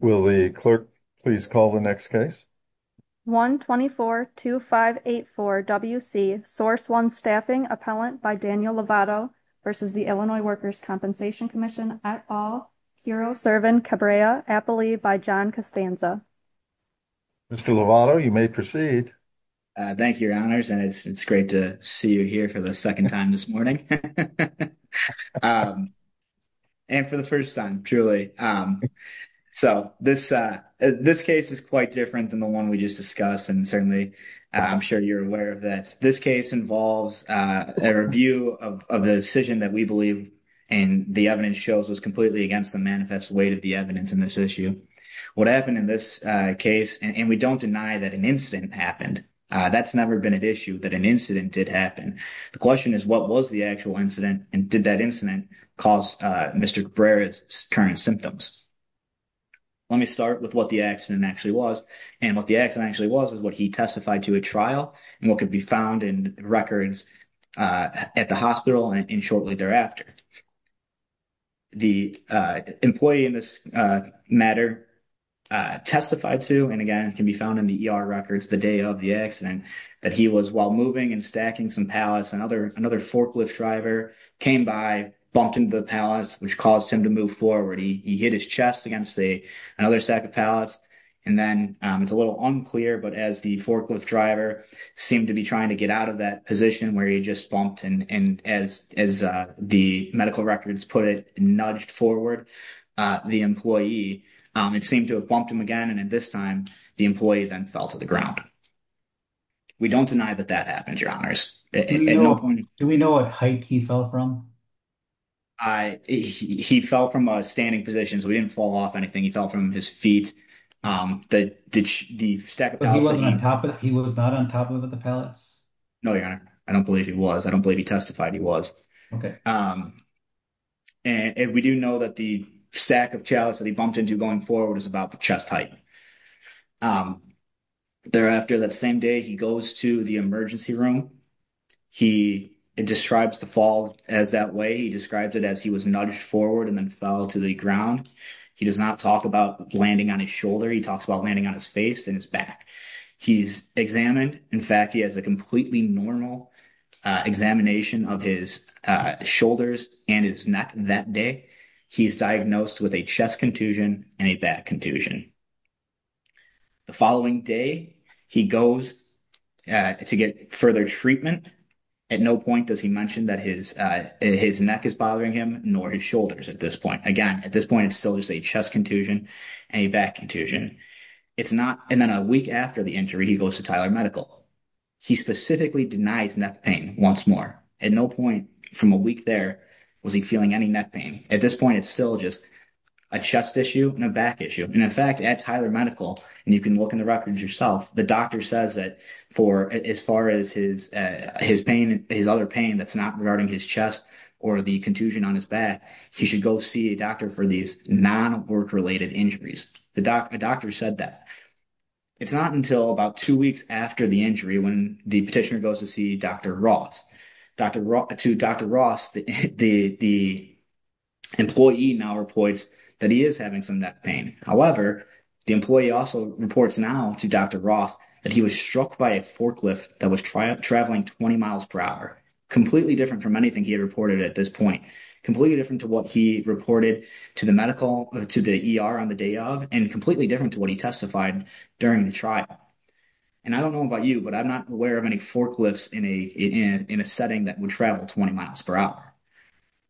Will the clerk please call the next case? 1-24-2584-WC, Source One Staffing, Appellant by Daniel Lovato v. Illinois Workers' Compensation Comm'n et al, Curo Servin Cabrera, Appalee by John Costanza. Mr. Lovato, you may proceed. Thank you, Your Honors, and it's great to see you here for the second time this morning. And for the first time, truly. So this case is quite different than the one we just discussed, and certainly I'm sure you're aware of that. This case involves a review of the decision that we believe and the evidence shows was completely against the manifest weight of the evidence in this issue. What happened in this case, and we don't deny that an incident happened, that's never been an issue, that an did that incident cause Mr. Cabrera's current symptoms. Let me start with what the accident actually was. And what the accident actually was was what he testified to at trial and what could be found in records at the hospital and shortly thereafter. The employee in this matter testified to, and again can be found in the ER records the day of the accident, that he was while moving and another forklift driver came by, bumped into the pallets, which caused him to move forward. He hit his chest against another stack of pallets, and then it's a little unclear, but as the forklift driver seemed to be trying to get out of that position where he just bumped, and as the medical records put it, nudged forward the employee, it seemed to have bumped him again, and at this time the employee then fell to the ground. We don't deny that that happened, Your Honors. Do we know what height he fell from? He fell from a standing position, so he didn't fall off anything. He fell from his feet. He was not on top of the pallets? No, Your Honor. I don't believe he was. I don't believe he testified he was. Okay. And we do know that the stack of pallets that he bumped into going forward is about chest height. Thereafter, that same day, he goes to the emergency room. It describes the fall as that way. He described it as he was nudged forward and then fell to the ground. He does not talk about landing on his shoulder. He talks about landing on his face and his back. He's examined. In fact, he has a completely normal examination of his shoulders and his neck that day. He is diagnosed with a chest contusion and a back contusion. The following day, he goes to get further treatment. At no point does he mention that his neck is bothering him nor his shoulders at this point. Again, at this point, it's still just a chest contusion and a back contusion. It's not. And then a week after the injury, he goes to Tyler Medical. He specifically denies neck pain once more. At no point from a week there was he feeling any neck pain. At this point, it's still just a chest issue and a back issue. And in fact, at Tyler Medical, and you can look in the records yourself, the doctor says that for as far as his other pain that's not regarding his chest or the contusion on his back, he should go see a doctor for these non-work-related injuries. The doctor said that. It's not until about two weeks after the injury when the petitioner goes to see Dr. Ross. To Dr. Ross, the employee now reports that he is having some neck pain. However, the employee also reports now to Dr. Ross that he was struck by a forklift that was traveling 20 miles per hour, completely different from anything he had reported at this point. Completely different to what he reported to the medical, to the ER on the day of, and completely different to what he testified during the trial. And I don't know about you, but I'm not aware of any forklifts in a setting that would travel 20 miles per hour.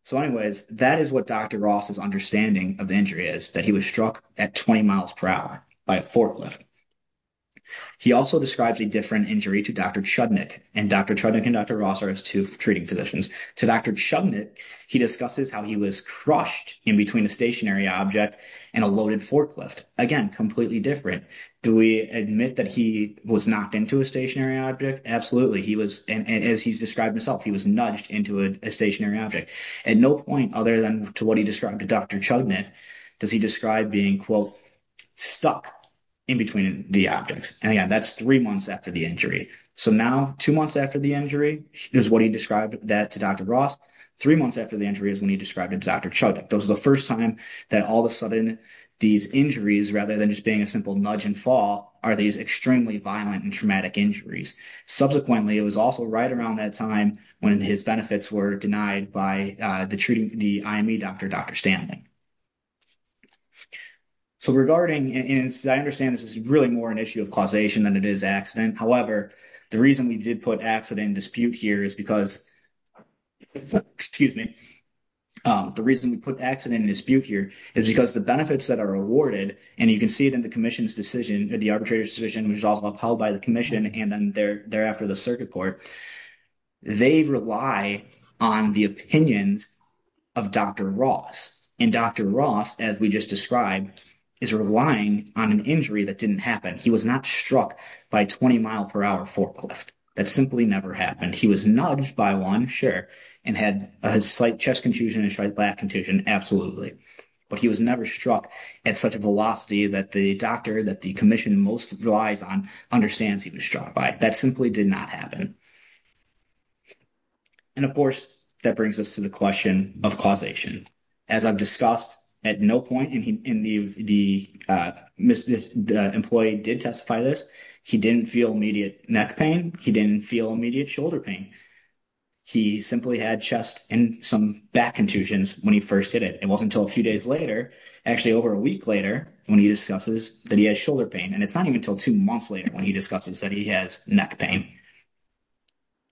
So anyways, that is what Dr. Ross's understanding of the injury is, that he was struck at 20 miles per hour by a forklift. He also describes a different injury to Dr. Chudnik, and Dr. Chudnik and Dr. Ross are his two treating physicians. To Dr. Chudnik, he discusses how he was crushed in between a stationary object and a loaded forklift. Again, completely different. Do we admit that he was knocked into a stationary object? Absolutely. He was, and as he's described himself, he was nudged into a stationary object. At no point other than to what he described to Dr. Chudnik does he describe being, quote, stuck in between the objects. And again, that's three months after the injury. So now, two months after the injury is what he described that to Dr. Ross. Three months after the injury is when he described it to Dr. Chudnik. Those are the first time that all of a sudden these injuries, rather than just being a simple nudge and fall, are these extremely violent and traumatic injuries. Subsequently, it was also right around that time when his benefits were denied by the treating, the IME doctor, Dr. Stanley. So regarding, and I understand this is really more an issue of causation than it is accident. However, the reason we did put accident in dispute here is because, excuse me, the reason we put accident in dispute here is because the benefits that are awarded, and you can see it in the commission's decision, the arbitrator's decision, which is also upheld by the commission, and then thereafter the circuit court, they rely on the opinions of Dr. Ross. And Dr. Ross as we just described is relying on an injury that didn't happen. He was not struck by 20 mile per hour forklift. That simply never happened. He was nudged by one, sure, and had a slight chest contusion and slight back contusion, absolutely. But he was never struck at such a velocity that the doctor that the commission most relies on understands he was struck by. That simply did not happen. And of course, that brings us to the question of causation. As I've discussed, at no point in the employee did testify to this, he didn't feel immediate neck pain. He didn't feel immediate shoulder pain. He simply had chest and some back contusions when he first did it. It wasn't until a few days later, actually over a week later, when he discusses that he has shoulder pain, and it's not even until two months later when he discusses that he has neck pain.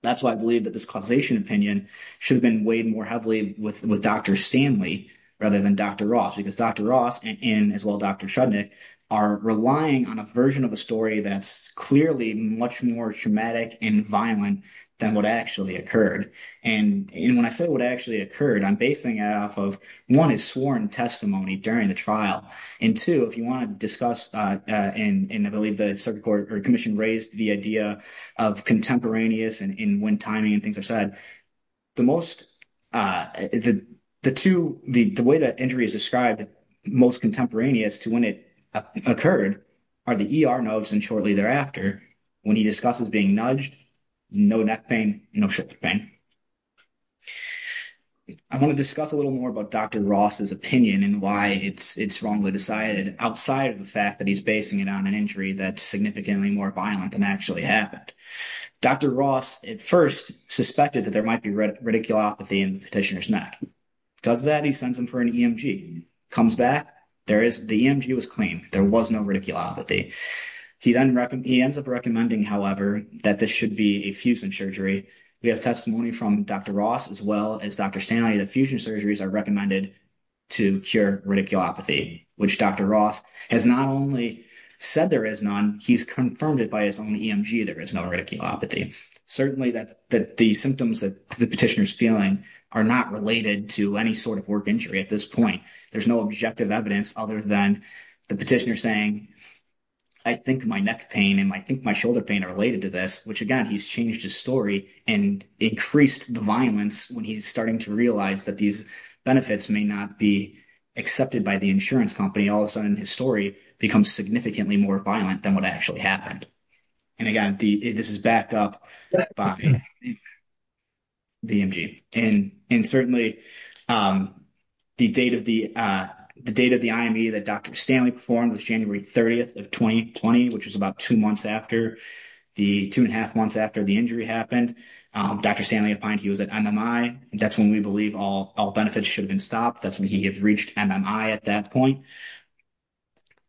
That's why I believe that this causation opinion should have been weighed more heavily with Dr. Stanley rather than Dr. Ross, because Dr. Ross and as well Dr. Shudnick are relying on a version of a story that's clearly much more traumatic and violent than what actually occurred. And when I say what actually occurred, I'm basing it off of, one, his sworn testimony during the trial, and two, if you want to discuss, and I believe the circuit court or commission raised the idea of contemporaneous and when timing and things are said, the most, the two, the way that injury is described most contemporaneous to when it occurred are the ER notes and shortly thereafter when he discusses being nudged, no neck pain, no shoulder pain. I want to discuss a little more about Dr. Ross's side of the fact that he's basing it on an injury that's significantly more violent than actually happened. Dr. Ross at first suspected that there might be radiculopathy in the petitioner's neck. Because of that, he sends him for an EMG. Comes back, there is, the EMG was clean. There was no radiculopathy. He then, he ends up recommending, however, that this should be a fusion surgery. We have testimony from Dr. Ross as well as Dr. Stanley that fusion surgeries are recommended to cure radiculopathy, which Dr. Ross has not only said there is none, he's confirmed it by his own EMG. There is no radiculopathy. Certainly, that the symptoms that the petitioner's feeling are not related to any sort of work injury at this point. There's no objective evidence other than the petitioner saying, I think my neck pain and I think my shoulder pain are related to this, which again, he's changed his story and increased the violence when he's starting to realize that these benefits may not be accepted by the insurance company. All of a sudden, his story becomes significantly more violent than what actually happened. And again, this is backed up by the EMG. And certainly, the date of the IME that Dr. Stanley performed was January 30th of 2020, which was about two months after, the two and a half months after the injury happened. Dr. Stanley opined he was at MMI. That's when we believe all benefits should have been stopped. That's when he had reached MMI at that point.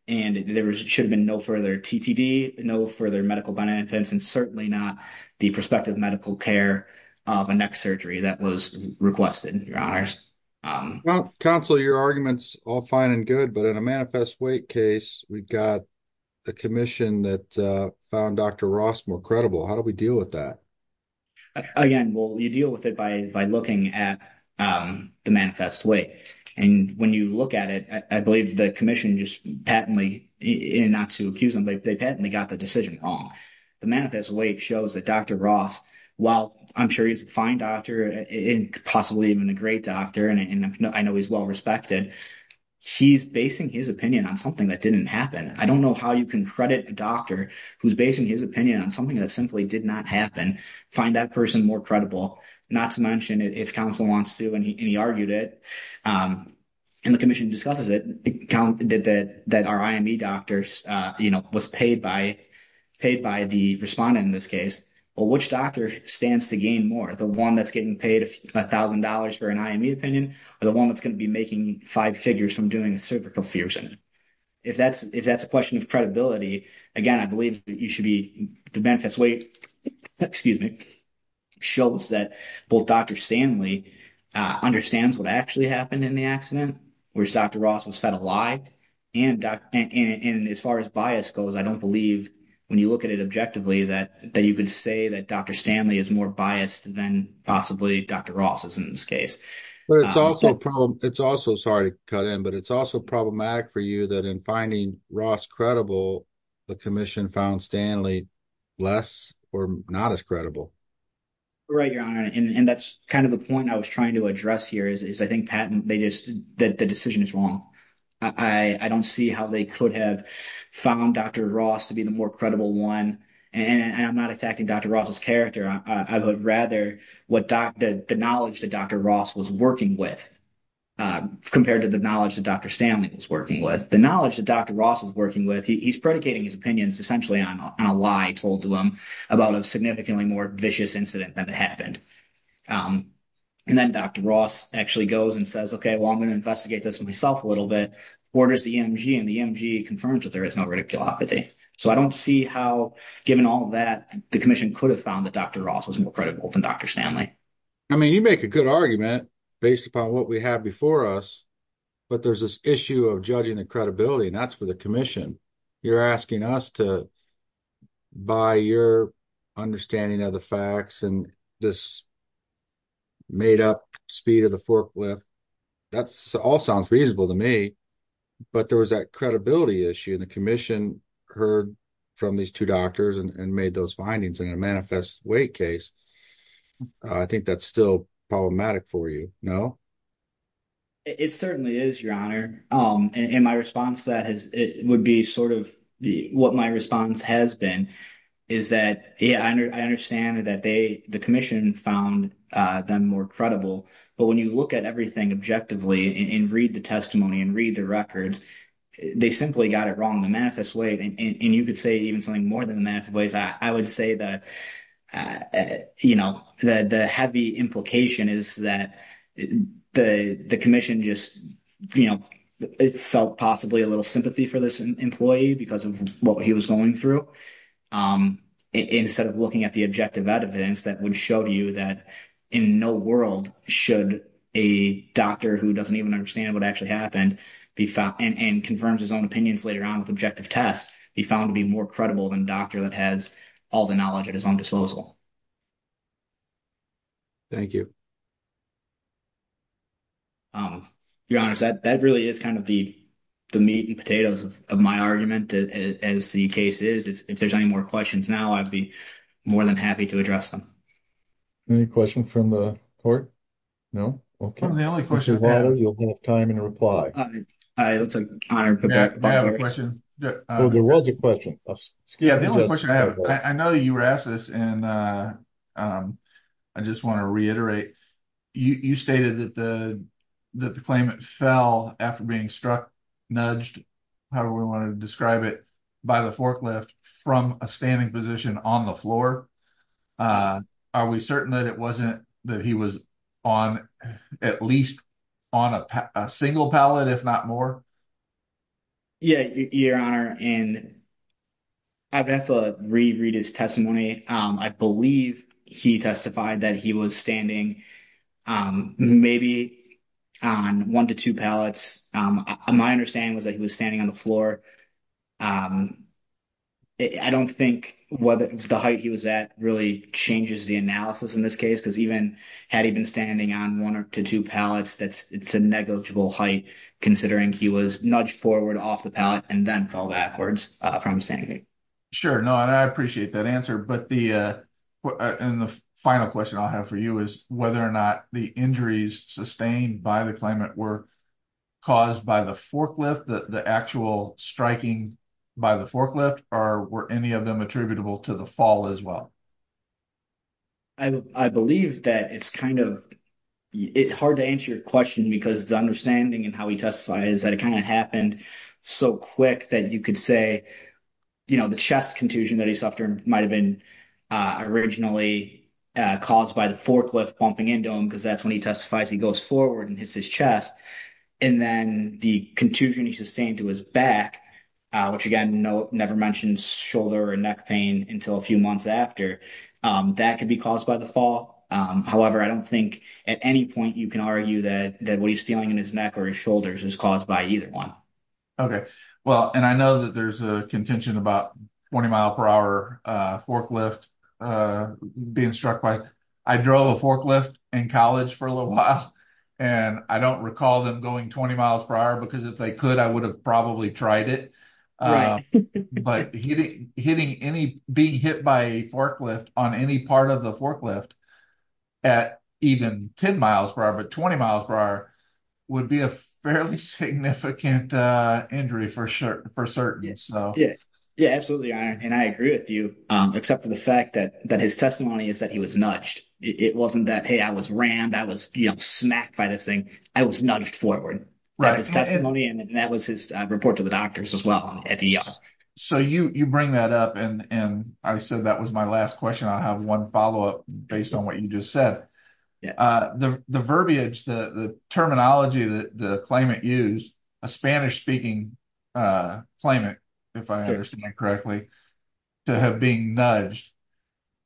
And there should have been no further TTD, no further medical benefits, and certainly not the prospective medical care of a neck surgery that was requested, your honors. Well, counsel, your argument's all fine and good, but in a manifest weight case, we've got a commission that found Dr. Ross more credible. How do we deal with that? Again, well, you deal with it by looking at the manifest weight. And when you look at it, I believe the commission just patently, not to accuse them, but they patently got the decision wrong. The manifest weight shows that Dr. Ross, while I'm sure he's a fine doctor and possibly even a great doctor, and I know he's well-respected, he's basing his opinion on something that didn't happen. I don't know how you can credit a doctor who's basing his opinion on something that simply did not happen, find that person more credible, not to mention if counsel wants to, and he argued it, and the commission discusses it, that our IME doctors, you know, was paid by the respondent in this case. Well, which doctor stands to gain more, the one that's getting paid $1,000 for an IME opinion or the one that's going to be making five figures from doing a cervical fusion? If that's a question of credibility, again, I believe you should be, the manifest weight, excuse me, shows that both Dr. Stanley understands what actually happened in the accident, whereas Dr. Ross was fed a lie, and as far as bias goes, I don't believe when you look at it objectively that you can say that Dr. Stanley is more biased than possibly Dr. Ross is in this case. But it's also a problem, it's also, sorry to cut in, but it's also problematic for you that in finding Ross credible, the commission found Stanley less or not as credible. Right, Your Honor, and that's kind of the point I was trying to address here is I think Pat, the decision is wrong. I don't see how they could have found Dr. Ross to be the more credible one, and I'm not attacking Dr. Ross's character, I would rather the knowledge that Dr. Ross was working with compared to the knowledge that Dr. Stanley was working with. The knowledge that Dr. Ross was working with, he's predicating his opinions essentially on a lie told to him about a significantly more vicious incident than it happened. And then Dr. Ross actually goes and says, okay, well, I'm going to investigate this myself a little bit, orders the EMG, and the EMG confirms that there is no radiculopathy. So I don't see how, given all that, the commission could have found that Dr. Ross was more credible than Dr. Stanley. I mean, you make a good argument based upon what we have before us, but there's this issue of judging the credibility, and that's for the commission. You're asking us to, by your understanding of the facts and this made up speed of the forklift, that all sounds reasonable to me, but there was that credibility issue, and the commission heard from these two doctors and made those findings in a manifest weight case. I think that's still problematic for you, no? It certainly is, Your Honor. And my response to that would be sort of what my response has been is that, yeah, I understand that the commission found them more credible, but when you look at everything objectively and read the testimony and read the records, they simply got it wrong. The manifest weight, and you could say even more than the manifest weight, I would say that the heavy implication is that the commission just felt possibly a little sympathy for this employee because of what he was going through, instead of looking at the objective evidence that would show you that in no world should a doctor who doesn't even understand what actually happened and confirms his own opinions later on with than a doctor that has all the knowledge at his own disposal. Thank you. Your Honor, that really is kind of the meat and potatoes of my argument, as the case is. If there's any more questions now, I'd be more than happy to address them. Any questions from the court? No? Okay. I'm the only question. You'll have time to reply. It's an honor. I have a question. There was a question. I know you were asked this, and I just want to reiterate. You stated that the claimant fell after being struck, nudged, however we want to describe it, by the forklift from a standing position on the floor. Are we certain that it wasn't that he was at least on a single pallet, if not more? Yeah, Your Honor. I'd have to re-read his testimony. I believe he testified that he was standing maybe on one to two pallets. My understanding was that he was standing on the floor. I don't think the height he was at really changes the analysis in this case. Had he been standing on one or two pallets, it's a negligible height, considering he was nudged forward off the pallet and then fell backwards from standing. Sure. I appreciate that answer. The final question I'll have for you is whether or not the injuries sustained by the claimant were caused by the forklift, the actual striking by the forklift, or were any of them attributable to the fall as well? I believe that it's kind of hard to answer your question because the understanding and how he testified is that it kind of happened so quick that you could say the chest contusion that he suffered might have been originally caused by the forklift bumping into him because that's when he testifies he goes forward and hits his chest. And then the contusion he sustained to his back, which again never mentions shoulder or neck pain until a few months after, that could be caused by the fall. However, I don't think at any point you can argue that what he's feeling in his neck or his shoulders is caused by either one. Okay. Well, and I know that there's a contention about 20 mile per hour forklift being struck by, I drove a forklift in college for a little while and I don't recall them going 20 miles per hour because if they could, I would have probably tried it. But hitting any, being hit by a forklift on any part of the forklift at even 10 miles per hour, but 20 miles per hour would be a fairly significant injury for certain. So yeah, yeah, absolutely. And I agree with you, except for the fact that his testimony is that he was nudged. It wasn't that, hey, I was rammed, I was smacked by this thing. I was nudged forward. That's his testimony and that was his report to the doctors as well at the ER. So you bring that up and I said that was my last question. I'll have one follow-up based on what you just said. The verbiage, the terminology that the claimant a Spanish-speaking claimant, if I understand that correctly, to have been nudged,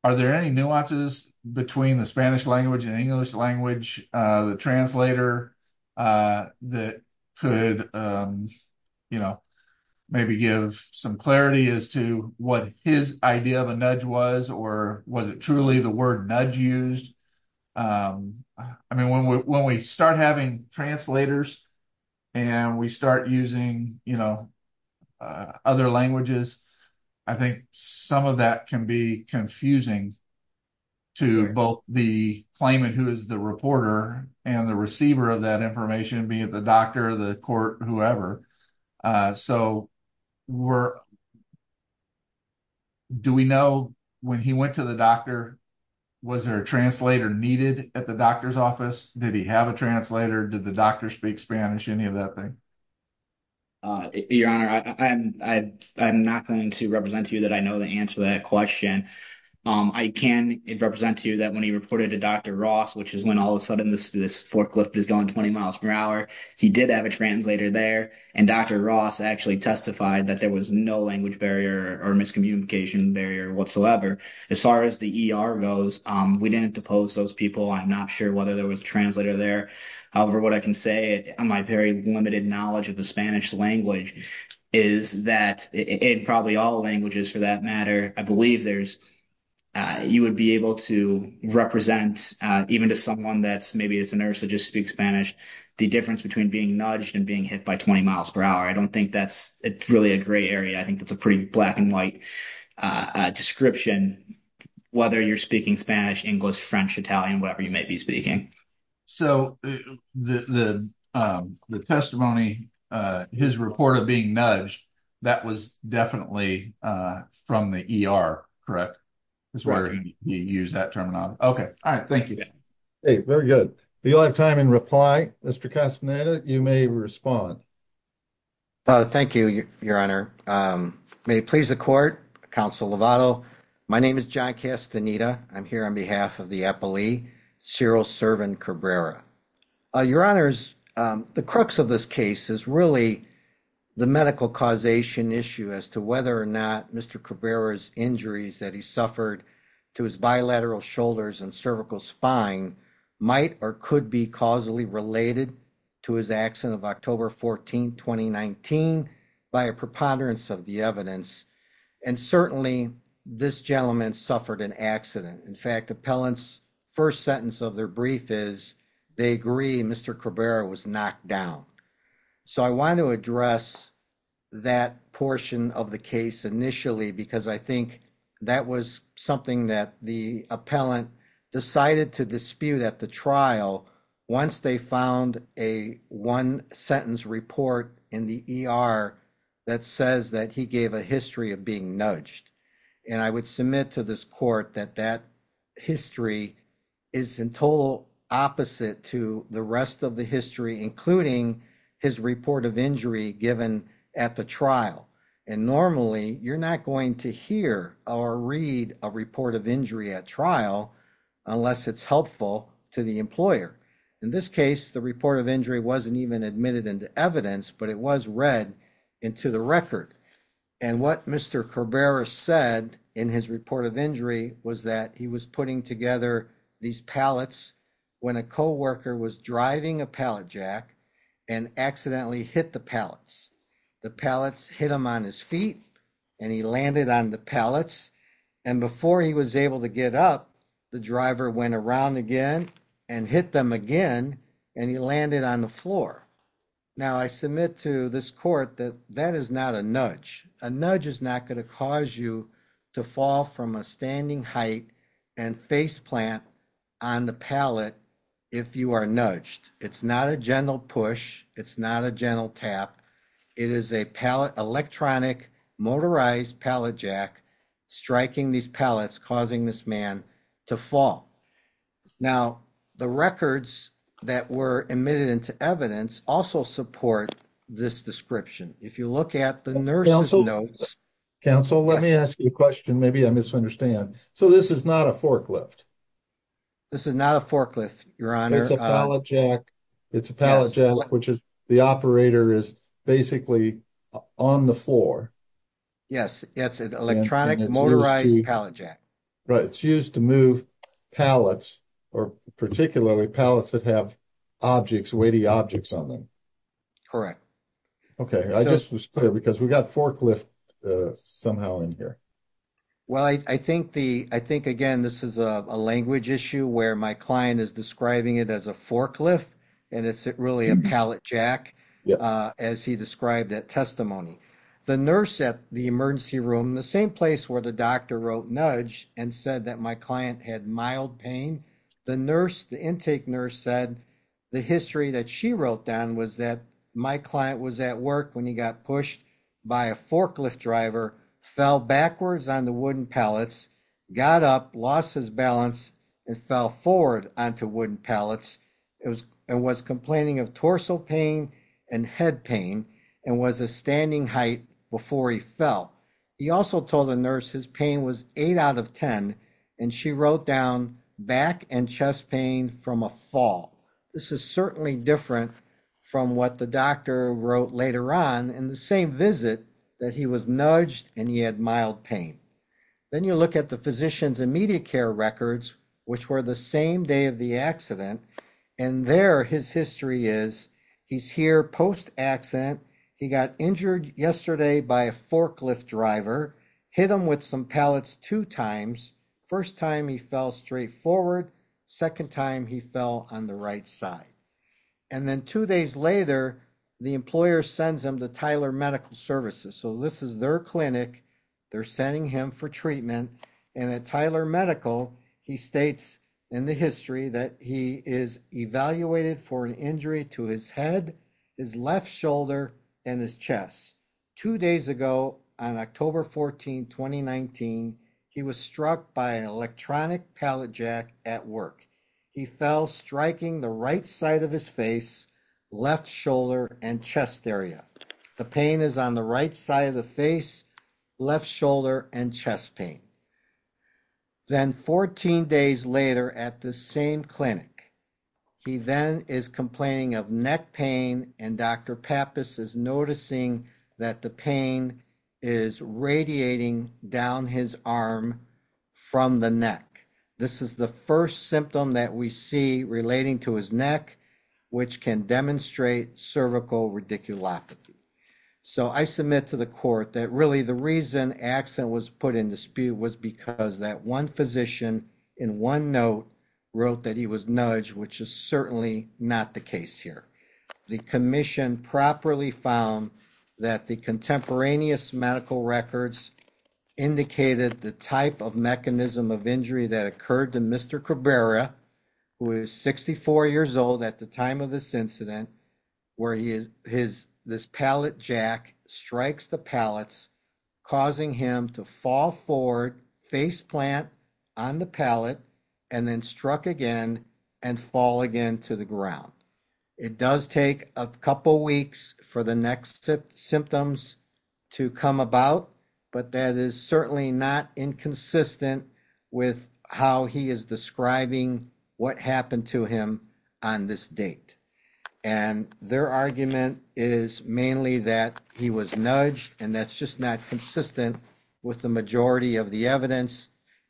are there any nuances between the Spanish language and English language, the translator that could maybe give some clarity as to what his idea of a nudge was or was it truly the word translators and we start using other languages. I think some of that can be confusing to both the claimant who is the reporter and the receiver of that information, be it the doctor, the court, whoever. So do we know when he went to the doctor, was there a translator needed at the doctor's office? Did he have a translator? Did the doctor speak Spanish, any of that thing? Your Honor, I'm not going to represent to you that I know the answer to that question. I can represent to you that when he reported to Dr. Ross, which is when all of a sudden this forklift is going 20 miles per hour, he did have a translator there and Dr. Ross actually testified that there was no language barrier or miscommunication barrier whatsoever. As far as the ER goes, we didn't depose those people. I'm not sure whether there was a translator there. However, what I can say on my very limited knowledge of the Spanish language is that in probably all languages for that matter, I believe you would be able to represent even to someone that's maybe it's a nurse that just speaks Spanish, the difference between being nudged and being hit by 20 miles per hour. I don't think that's really a gray area. I think it's a pretty black and white description, whether you're speaking Spanish, English, French, Italian, whatever you may be speaking. The testimony, his report of being nudged, that was definitely from the ER, correct? That's where you use that terminology. Okay. All right. Thank you. Very good. If you'll have time in reply, Mr. Castaneda, you may respond. Oh, thank you, Your Honor. May it please the court, Counsel Lovato. My name is John Castaneda. I'm here on behalf of the epilee, Cyril Servin Cabrera. Your Honors, the crux of this case is really the medical causation issue as to whether or not Mr. Cabrera's injuries that he suffered to his bilateral shoulders and cervical spine might or could be causally related to his accident October 14, 2019, by a preponderance of the evidence. And certainly, this gentleman suffered an accident. In fact, appellant's first sentence of their brief is, they agree Mr. Cabrera was knocked down. So I want to address that portion of the case initially, because I think that was something that the appellant decided to dispute at the trial once they found a one-sentence report in the ER that says that he gave a history of being nudged. And I would submit to this court that that history is in total opposite to the rest of the history, including his report of injury given at the trial. And normally, you're not going to hear or read a report of injury at trial unless it's helpful to the employer. In this case, the report of injury wasn't even admitted into evidence, but it was read into the record. And what Mr. Cabrera said in his report of injury was that he was putting together these pallets when a co-worker was driving a pallet jack and accidentally hit the pallets. The pallets hit him on his feet and he landed on the pallets. And before he was able to get up, the driver went around again and hit them again and he landed on the floor. Now, I submit to this court that that is not a nudge. A nudge is not going to cause you to fall from a standing height and face plant on the pallet if you are nudged. It's not a push. It's not a gentle tap. It is a pallet electronic motorized pallet jack striking these pallets, causing this man to fall. Now, the records that were admitted into evidence also support this description. If you look at the nurse's notes. Counsel, let me ask you a question. Maybe I misunderstand. So this is not a forklift? This is not a forklift, your honor. It's a pallet jack which is the operator is basically on the floor. Yes, it's an electronic motorized pallet jack. Right, it's used to move pallets or particularly pallets that have objects, weighty objects on them. Correct. Okay, I just was clear because we got forklift somehow in here. Well, I think again this is a language issue where my client is describing it as a forklift and it's really a pallet jack as he described that testimony. The nurse at the emergency room, the same place where the doctor wrote nudge and said that my client had mild pain, the nurse, the intake nurse said the history that she wrote down was that my client was at work when he got pushed by a forklift driver, fell backwards on the wooden pallets, got up, lost his balance, and fell forward onto wooden pallets. It was complaining of torso pain and head pain and was a standing height before he fell. He also told the nurse his pain was eight out of ten and she wrote down back and chest pain from a fall. This is certainly different from what the doctor wrote later on in the same visit that he was nudged and he had mild pain. Then you look at the physician's immediate care records which were the same day of the accident and there his history is. He's here post-accident. He got injured yesterday by a forklift driver, hit him with some pallets two times. First time he fell straight forward, second time he fell on the right side, and then two days later the employer sends him to Tyler Medical Services. So this is their clinic. They're sending him for treatment and at Tyler Medical he states in the history that he is evaluated for an injury to his head, his left shoulder, and his chest. Two days ago on October 14, 2019 he was struck by an electronic pallet jack at work. He fell striking the right side of his face, left shoulder, and chest area. The pain is on the right side of the face, left shoulder, and chest pain. Then 14 days later at the same clinic he then is complaining of neck pain and Dr. Pappas is noticing that the pain is radiating down his arm from the neck. This is the first symptom that we see relating to his neck which can demonstrate cervical radiculopathy. So I submit to the court that really the reason accident was put in dispute was because that one physician in one note wrote that he was nudged which is certainly not the case here. The commission properly found that the contemporaneous medical records indicated the type of mechanism of injury that occurred to Mr. Cabrera who is 64 years old at the time of this incident where he is his this pallet jack strikes the pallets causing him to fall forward face plant on the pallet and then struck again and fall again to the ground. It does take a couple weeks for the next symptoms to come about but that is certainly not inconsistent with how he is describing what happened to him on this date and their argument is mainly that he was nudged and that's just not consistent with the majority of the evidence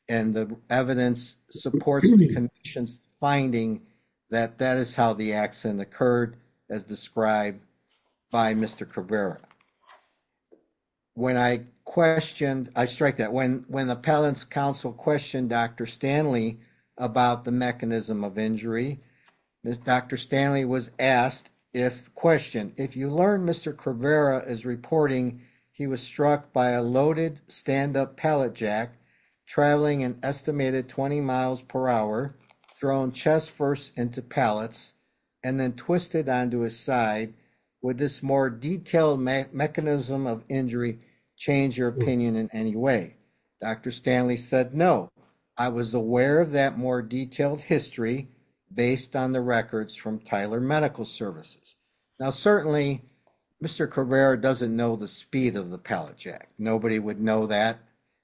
and the evidence supports the commission's finding that that is how the accident occurred as described by Mr. Cabrera. When I questioned I strike that when when the pallets council questioned Dr. Stanley about the mechanism of injury Dr. Stanley was asked if question if you learn Mr. Cabrera is reporting he was struck by a loaded stand-up pallet jack traveling an estimated 20 miles per hour thrown chest first into pallets and then twisted onto his side would this more detailed mechanism of injury change your opinion in any way Dr. Stanley said no I was aware of that more detailed history based on the records from Tyler Medical Services. Now certainly Mr. Cabrera doesn't know the speed of the pallet jack nobody would know that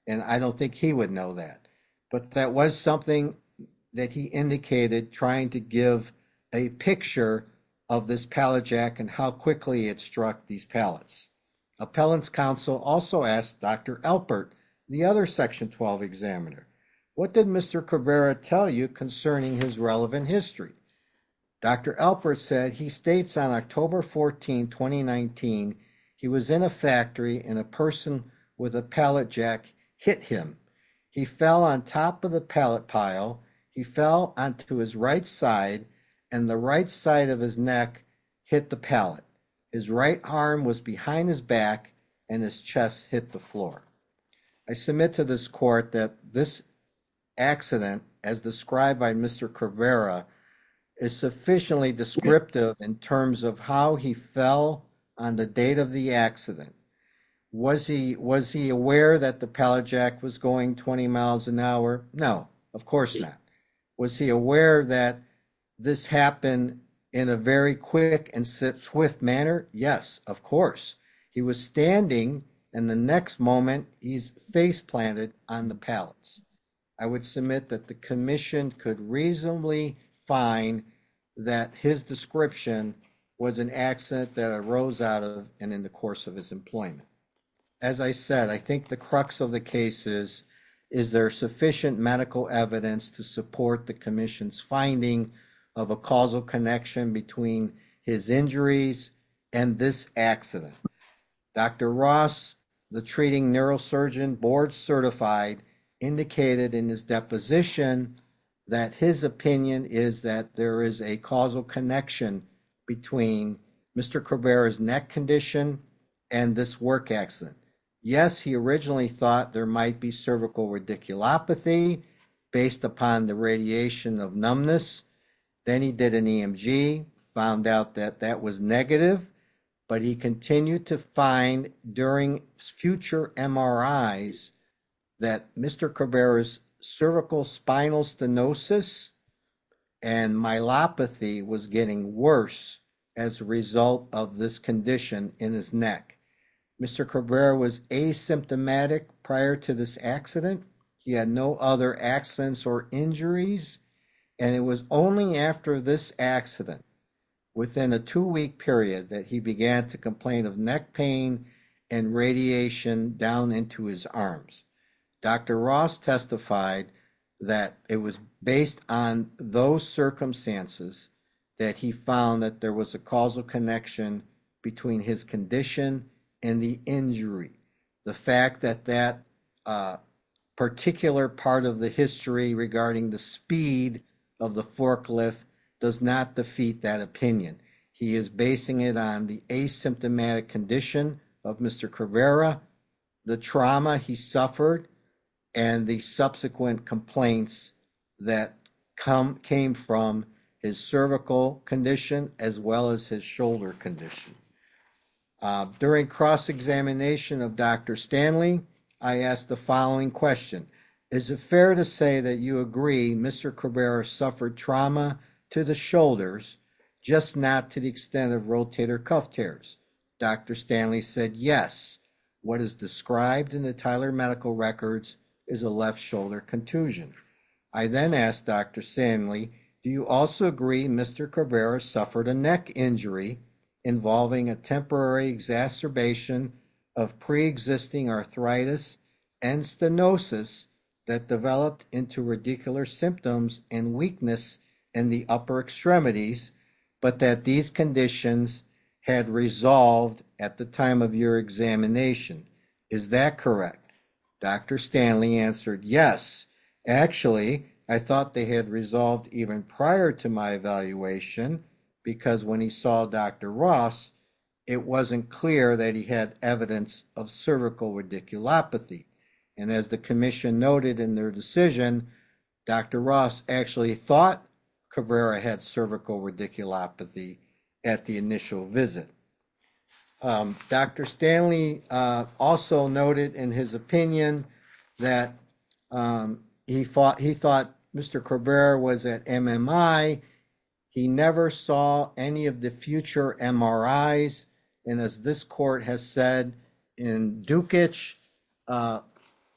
and I don't think he would know that but that was something that he indicated trying to give a picture of this pallet jack and how quickly it struck these pallets. Appellants council also asked Dr. Alpert the other section 12 examiner what did Mr. Cabrera tell you concerning his relevant history Dr. Alpert said he states on 2019 he was in a factory and a person with a pallet jack hit him he fell on top of the pallet pile he fell onto his right side and the right side of his neck hit the pallet his right arm was behind his back and his chest hit the floor. I submit to this court that this accident as described by Mr. Cabrera is sufficiently descriptive in terms of how he fell on the date of the accident was he was he aware that the pallet jack was going 20 miles an hour no of course not was he aware that this happened in a very quick and swift manner yes of course he was standing in the next moment he's face planted on the pallets I would submit that the commission could reasonably find that his description was an accident that arose out of and in the course of his employment as I said I think the crux of the case is is there sufficient medical evidence to support the commission's finding of a causal connection between his injuries and this accident Dr. Ross the treating neurosurgeon board certified indicated in his deposition that his opinion is that there is a causal connection between Mr. Cabrera's neck condition and this work accident yes he originally thought there might be cervical radiculopathy based upon the radiation of numbness then he did an EMG found out that that was negative but he continued to find during future MRIs that Mr. Cabrera's cervical spinal stenosis and myelopathy was getting worse as a result of this condition in his neck Mr. Cabrera was asymptomatic prior to this accident he had no other accidents or injuries and it was only after this accident within a two-week period that he began to complain of neck pain and radiation down into his arms Dr. Ross testified that it was based on those circumstances that he found that there was a causal connection between his condition and the injury the fact that a particular part of the history regarding the speed of the forklift does not defeat that opinion he is basing it on the asymptomatic condition of Mr. Cabrera the trauma he suffered and the subsequent complaints that come came from his cervical condition as well as his shoulder condition during cross-examination of Dr. Stanley I asked the following question is it fair to say that you agree Mr. Cabrera suffered trauma to the shoulders just not to the extent of rotator cuff tears Dr. Stanley said yes what is described in the Tyler Medical Records is a left shoulder contusion I then asked Dr. Stanley do you also agree Mr. Cabrera suffered a neck injury involving a temporary exacerbation of pre-existing arthritis and stenosis that developed into radicular symptoms and weakness in the upper extremities but that these conditions had resolved at the time of your examination is that correct Dr. Stanley answered yes actually I thought they had resolved even prior to my evaluation because when he saw Dr. Ross it wasn't clear that he had evidence of cervical radiculopathy and as the commission noted in their decision Dr. Ross actually thought Cabrera had cervical radiculopathy at the initial visit Dr. Stanley also noted in his opinion that he thought he thought Mr. Cabrera was at MMI he never saw any of the future MRIs and as this court has said in Dukic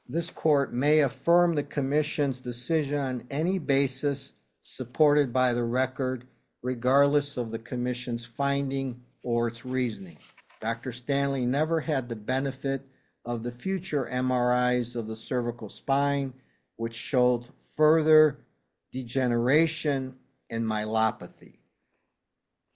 this court may affirm the commission's decision on any basis supported by the record regardless of the commission's finding or its reasoning Dr. Stanley never had the benefit of the future MRIs of the cervical spine which showed further degeneration and myelopathy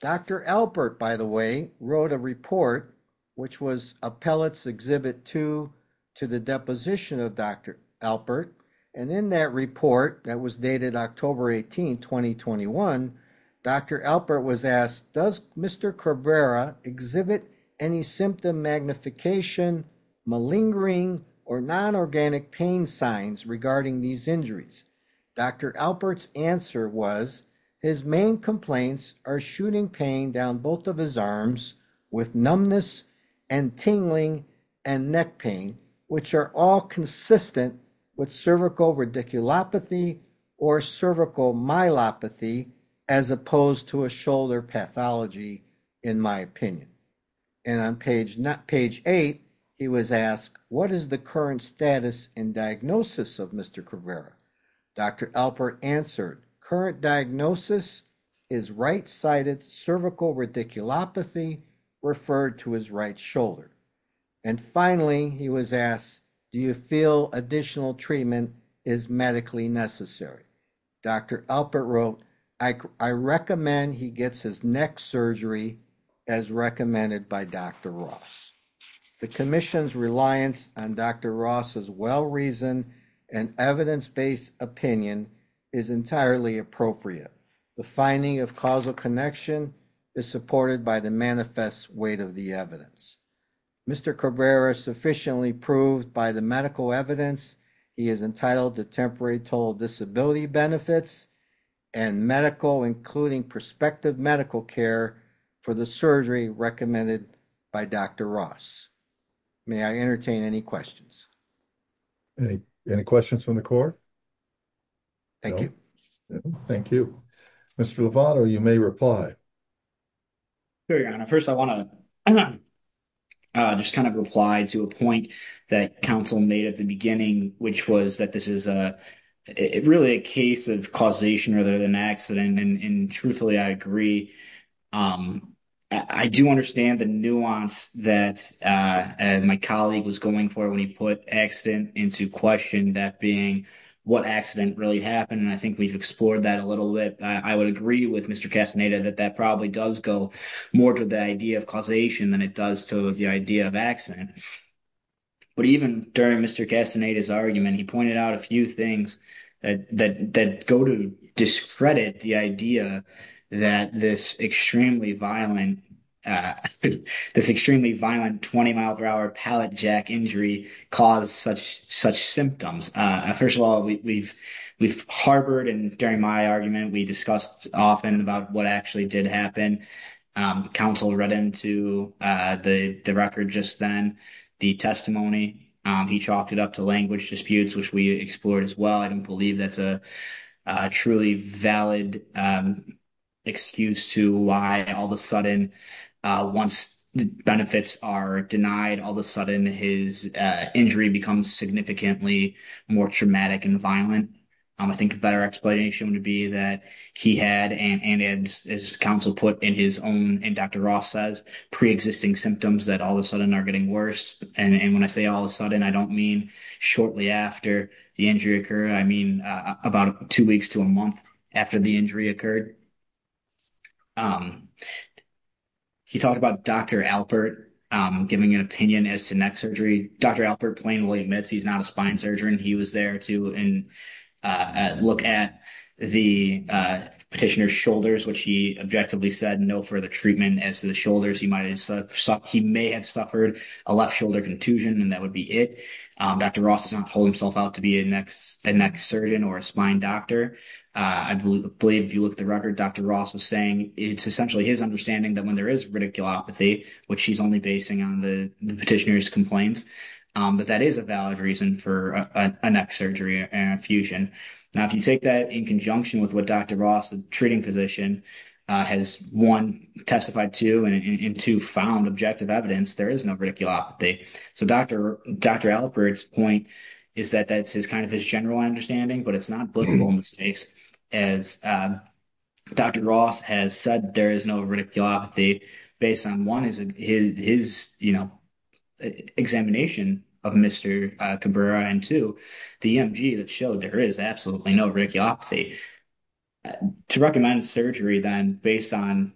Dr. Alpert by the way wrote a report which was appellate's exhibit two to the deposition of Dr. Alpert and in that report that was dated October 18 2021 Dr. Alpert was asked does Mr. Cabrera exhibit any symptom magnification malingering or non-organic pain signs regarding these injuries Dr. Alpert's answer was his main complaints are shooting pain down both of his arms with numbness and tingling and neck pain which are all consistent with cervical radiculopathy or cervical myelopathy as opposed to a shoulder pathology in my opinion and on page not page eight he was asked what is the current status and diagnosis of Mr. Cabrera Dr. Alpert answered current diagnosis is right-sided cervical radiculopathy referred to his right shoulder and finally he was asked do you feel additional treatment is medically necessary Dr. Alpert wrote I recommend he gets his neck surgery as recommended by Dr. Ross the commission's reliance on Dr. Ross's well-reasoned and evidence-based opinion is entirely appropriate the finding of causal connection is supported by the manifest weight of the evidence Mr. Cabrera sufficiently proved by the medical evidence he is entitled to temporary total disability benefits and medical including prospective medical care for the surgery recommended by Dr. Ross may I entertain any questions any any questions from the court thank you thank you Mr. Lovato you may reply here your honor first I want to just kind of reply to a point that council made at the beginning which was that this is a really a case of causation rather than accident and truthfully I agree I do understand the nuance that my colleague was going for when he put accident into question that being what accident really happened and I think we've explored that a little bit I would agree with Mr. Castaneda that that probably does go more to the idea of causation than it does to the idea of accident but even during Mr. Castaneda's argument he pointed out a few things that that go to discredit the idea that this extremely violent uh this extremely violent 20 mile per hour pallet jack injury caused such such symptoms uh first of all we've we've harbored and during my argument we discussed often about what actually did happen um council read into uh the the record just then the testimony um he chalked it up to language disputes which we explored as well I don't believe that's a truly valid excuse to why all of a sudden once the benefits are denied all of a sudden his injury becomes significantly more traumatic and violent I think a better explanation would be that he had and and as council put in his own and Dr. Ross says pre-existing symptoms that all of a sudden are getting worse and and when I say all of a I mean about two weeks to a month after the injury occurred um he talked about Dr. Alpert giving an opinion as to neck surgery Dr. Alpert plainly admits he's not a spine surgeon he was there to and uh look at the petitioner's shoulders which he objectively said no for the treatment as to the shoulders he might have said he may have suffered a left shoulder contusion and that would be it um Dr. Ross has not pulled himself out to be a next a neck surgeon or a spine doctor I believe if you look at the record Dr. Ross was saying it's essentially his understanding that when there is radiculopathy which she's only basing on the petitioner's complaints um but that is a valid reason for a neck surgery and fusion now if you take that in conjunction with what Dr. Ross the treating physician uh has one testified to and in two found objective evidence there is no radiculopathy so Dr. Alpert's point is that that's his kind of his general understanding but it's not applicable in this case as Dr. Ross has said there is no radiculopathy based on one is his you know examination of Mr. Cabrera and two the EMG that showed there is absolutely no radiculopathy to recommend surgery then based on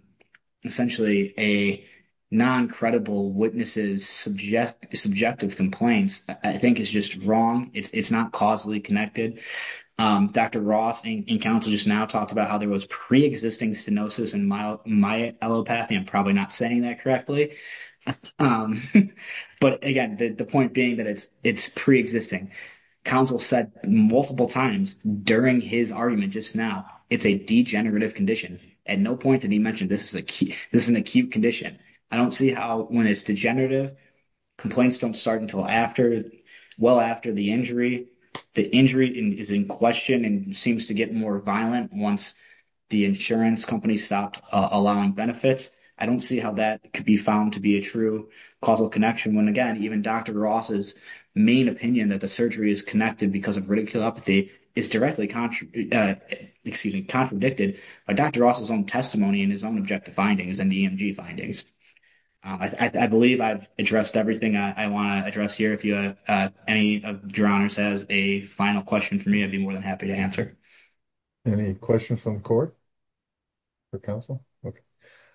essentially a non-credible witnesses subject subjective complaints I think is just wrong it's not causally connected um Dr. Ross in council just now talked about how there was pre-existing stenosis and my my allopathy I'm probably not saying that correctly um but again the point being that it's it's pre-existing council said multiple times during his argument just now it's a degenerative condition at no point did he mention this is a key this is an acute condition I don't see how when it's degenerative complaints don't start until after well after the injury the injury is in question and seems to get more violent once the insurance company stopped allowing benefits I don't see how that could be found to be a true causal connection when again even Dr. Ross's main opinion that the surgery is connected because of radiculopathy is directly uh excuse me contradicted by Dr. Ross's own testimony and his own objective findings and the EMG findings I believe I've addressed everything I want to address here if you uh any of your honors has a final question for me I'd be more than happy to answer any questions from the court for counsel okay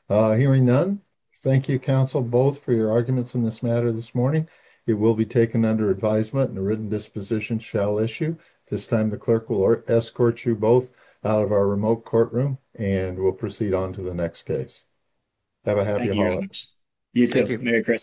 uh hearing none thank you counsel both for your arguments in this matter this morning it will be taken under advisement and a written disposition shall issue this time the clerk will escort you both out of our remote courtroom and we'll proceed on to the next case have a happy you too merry christmas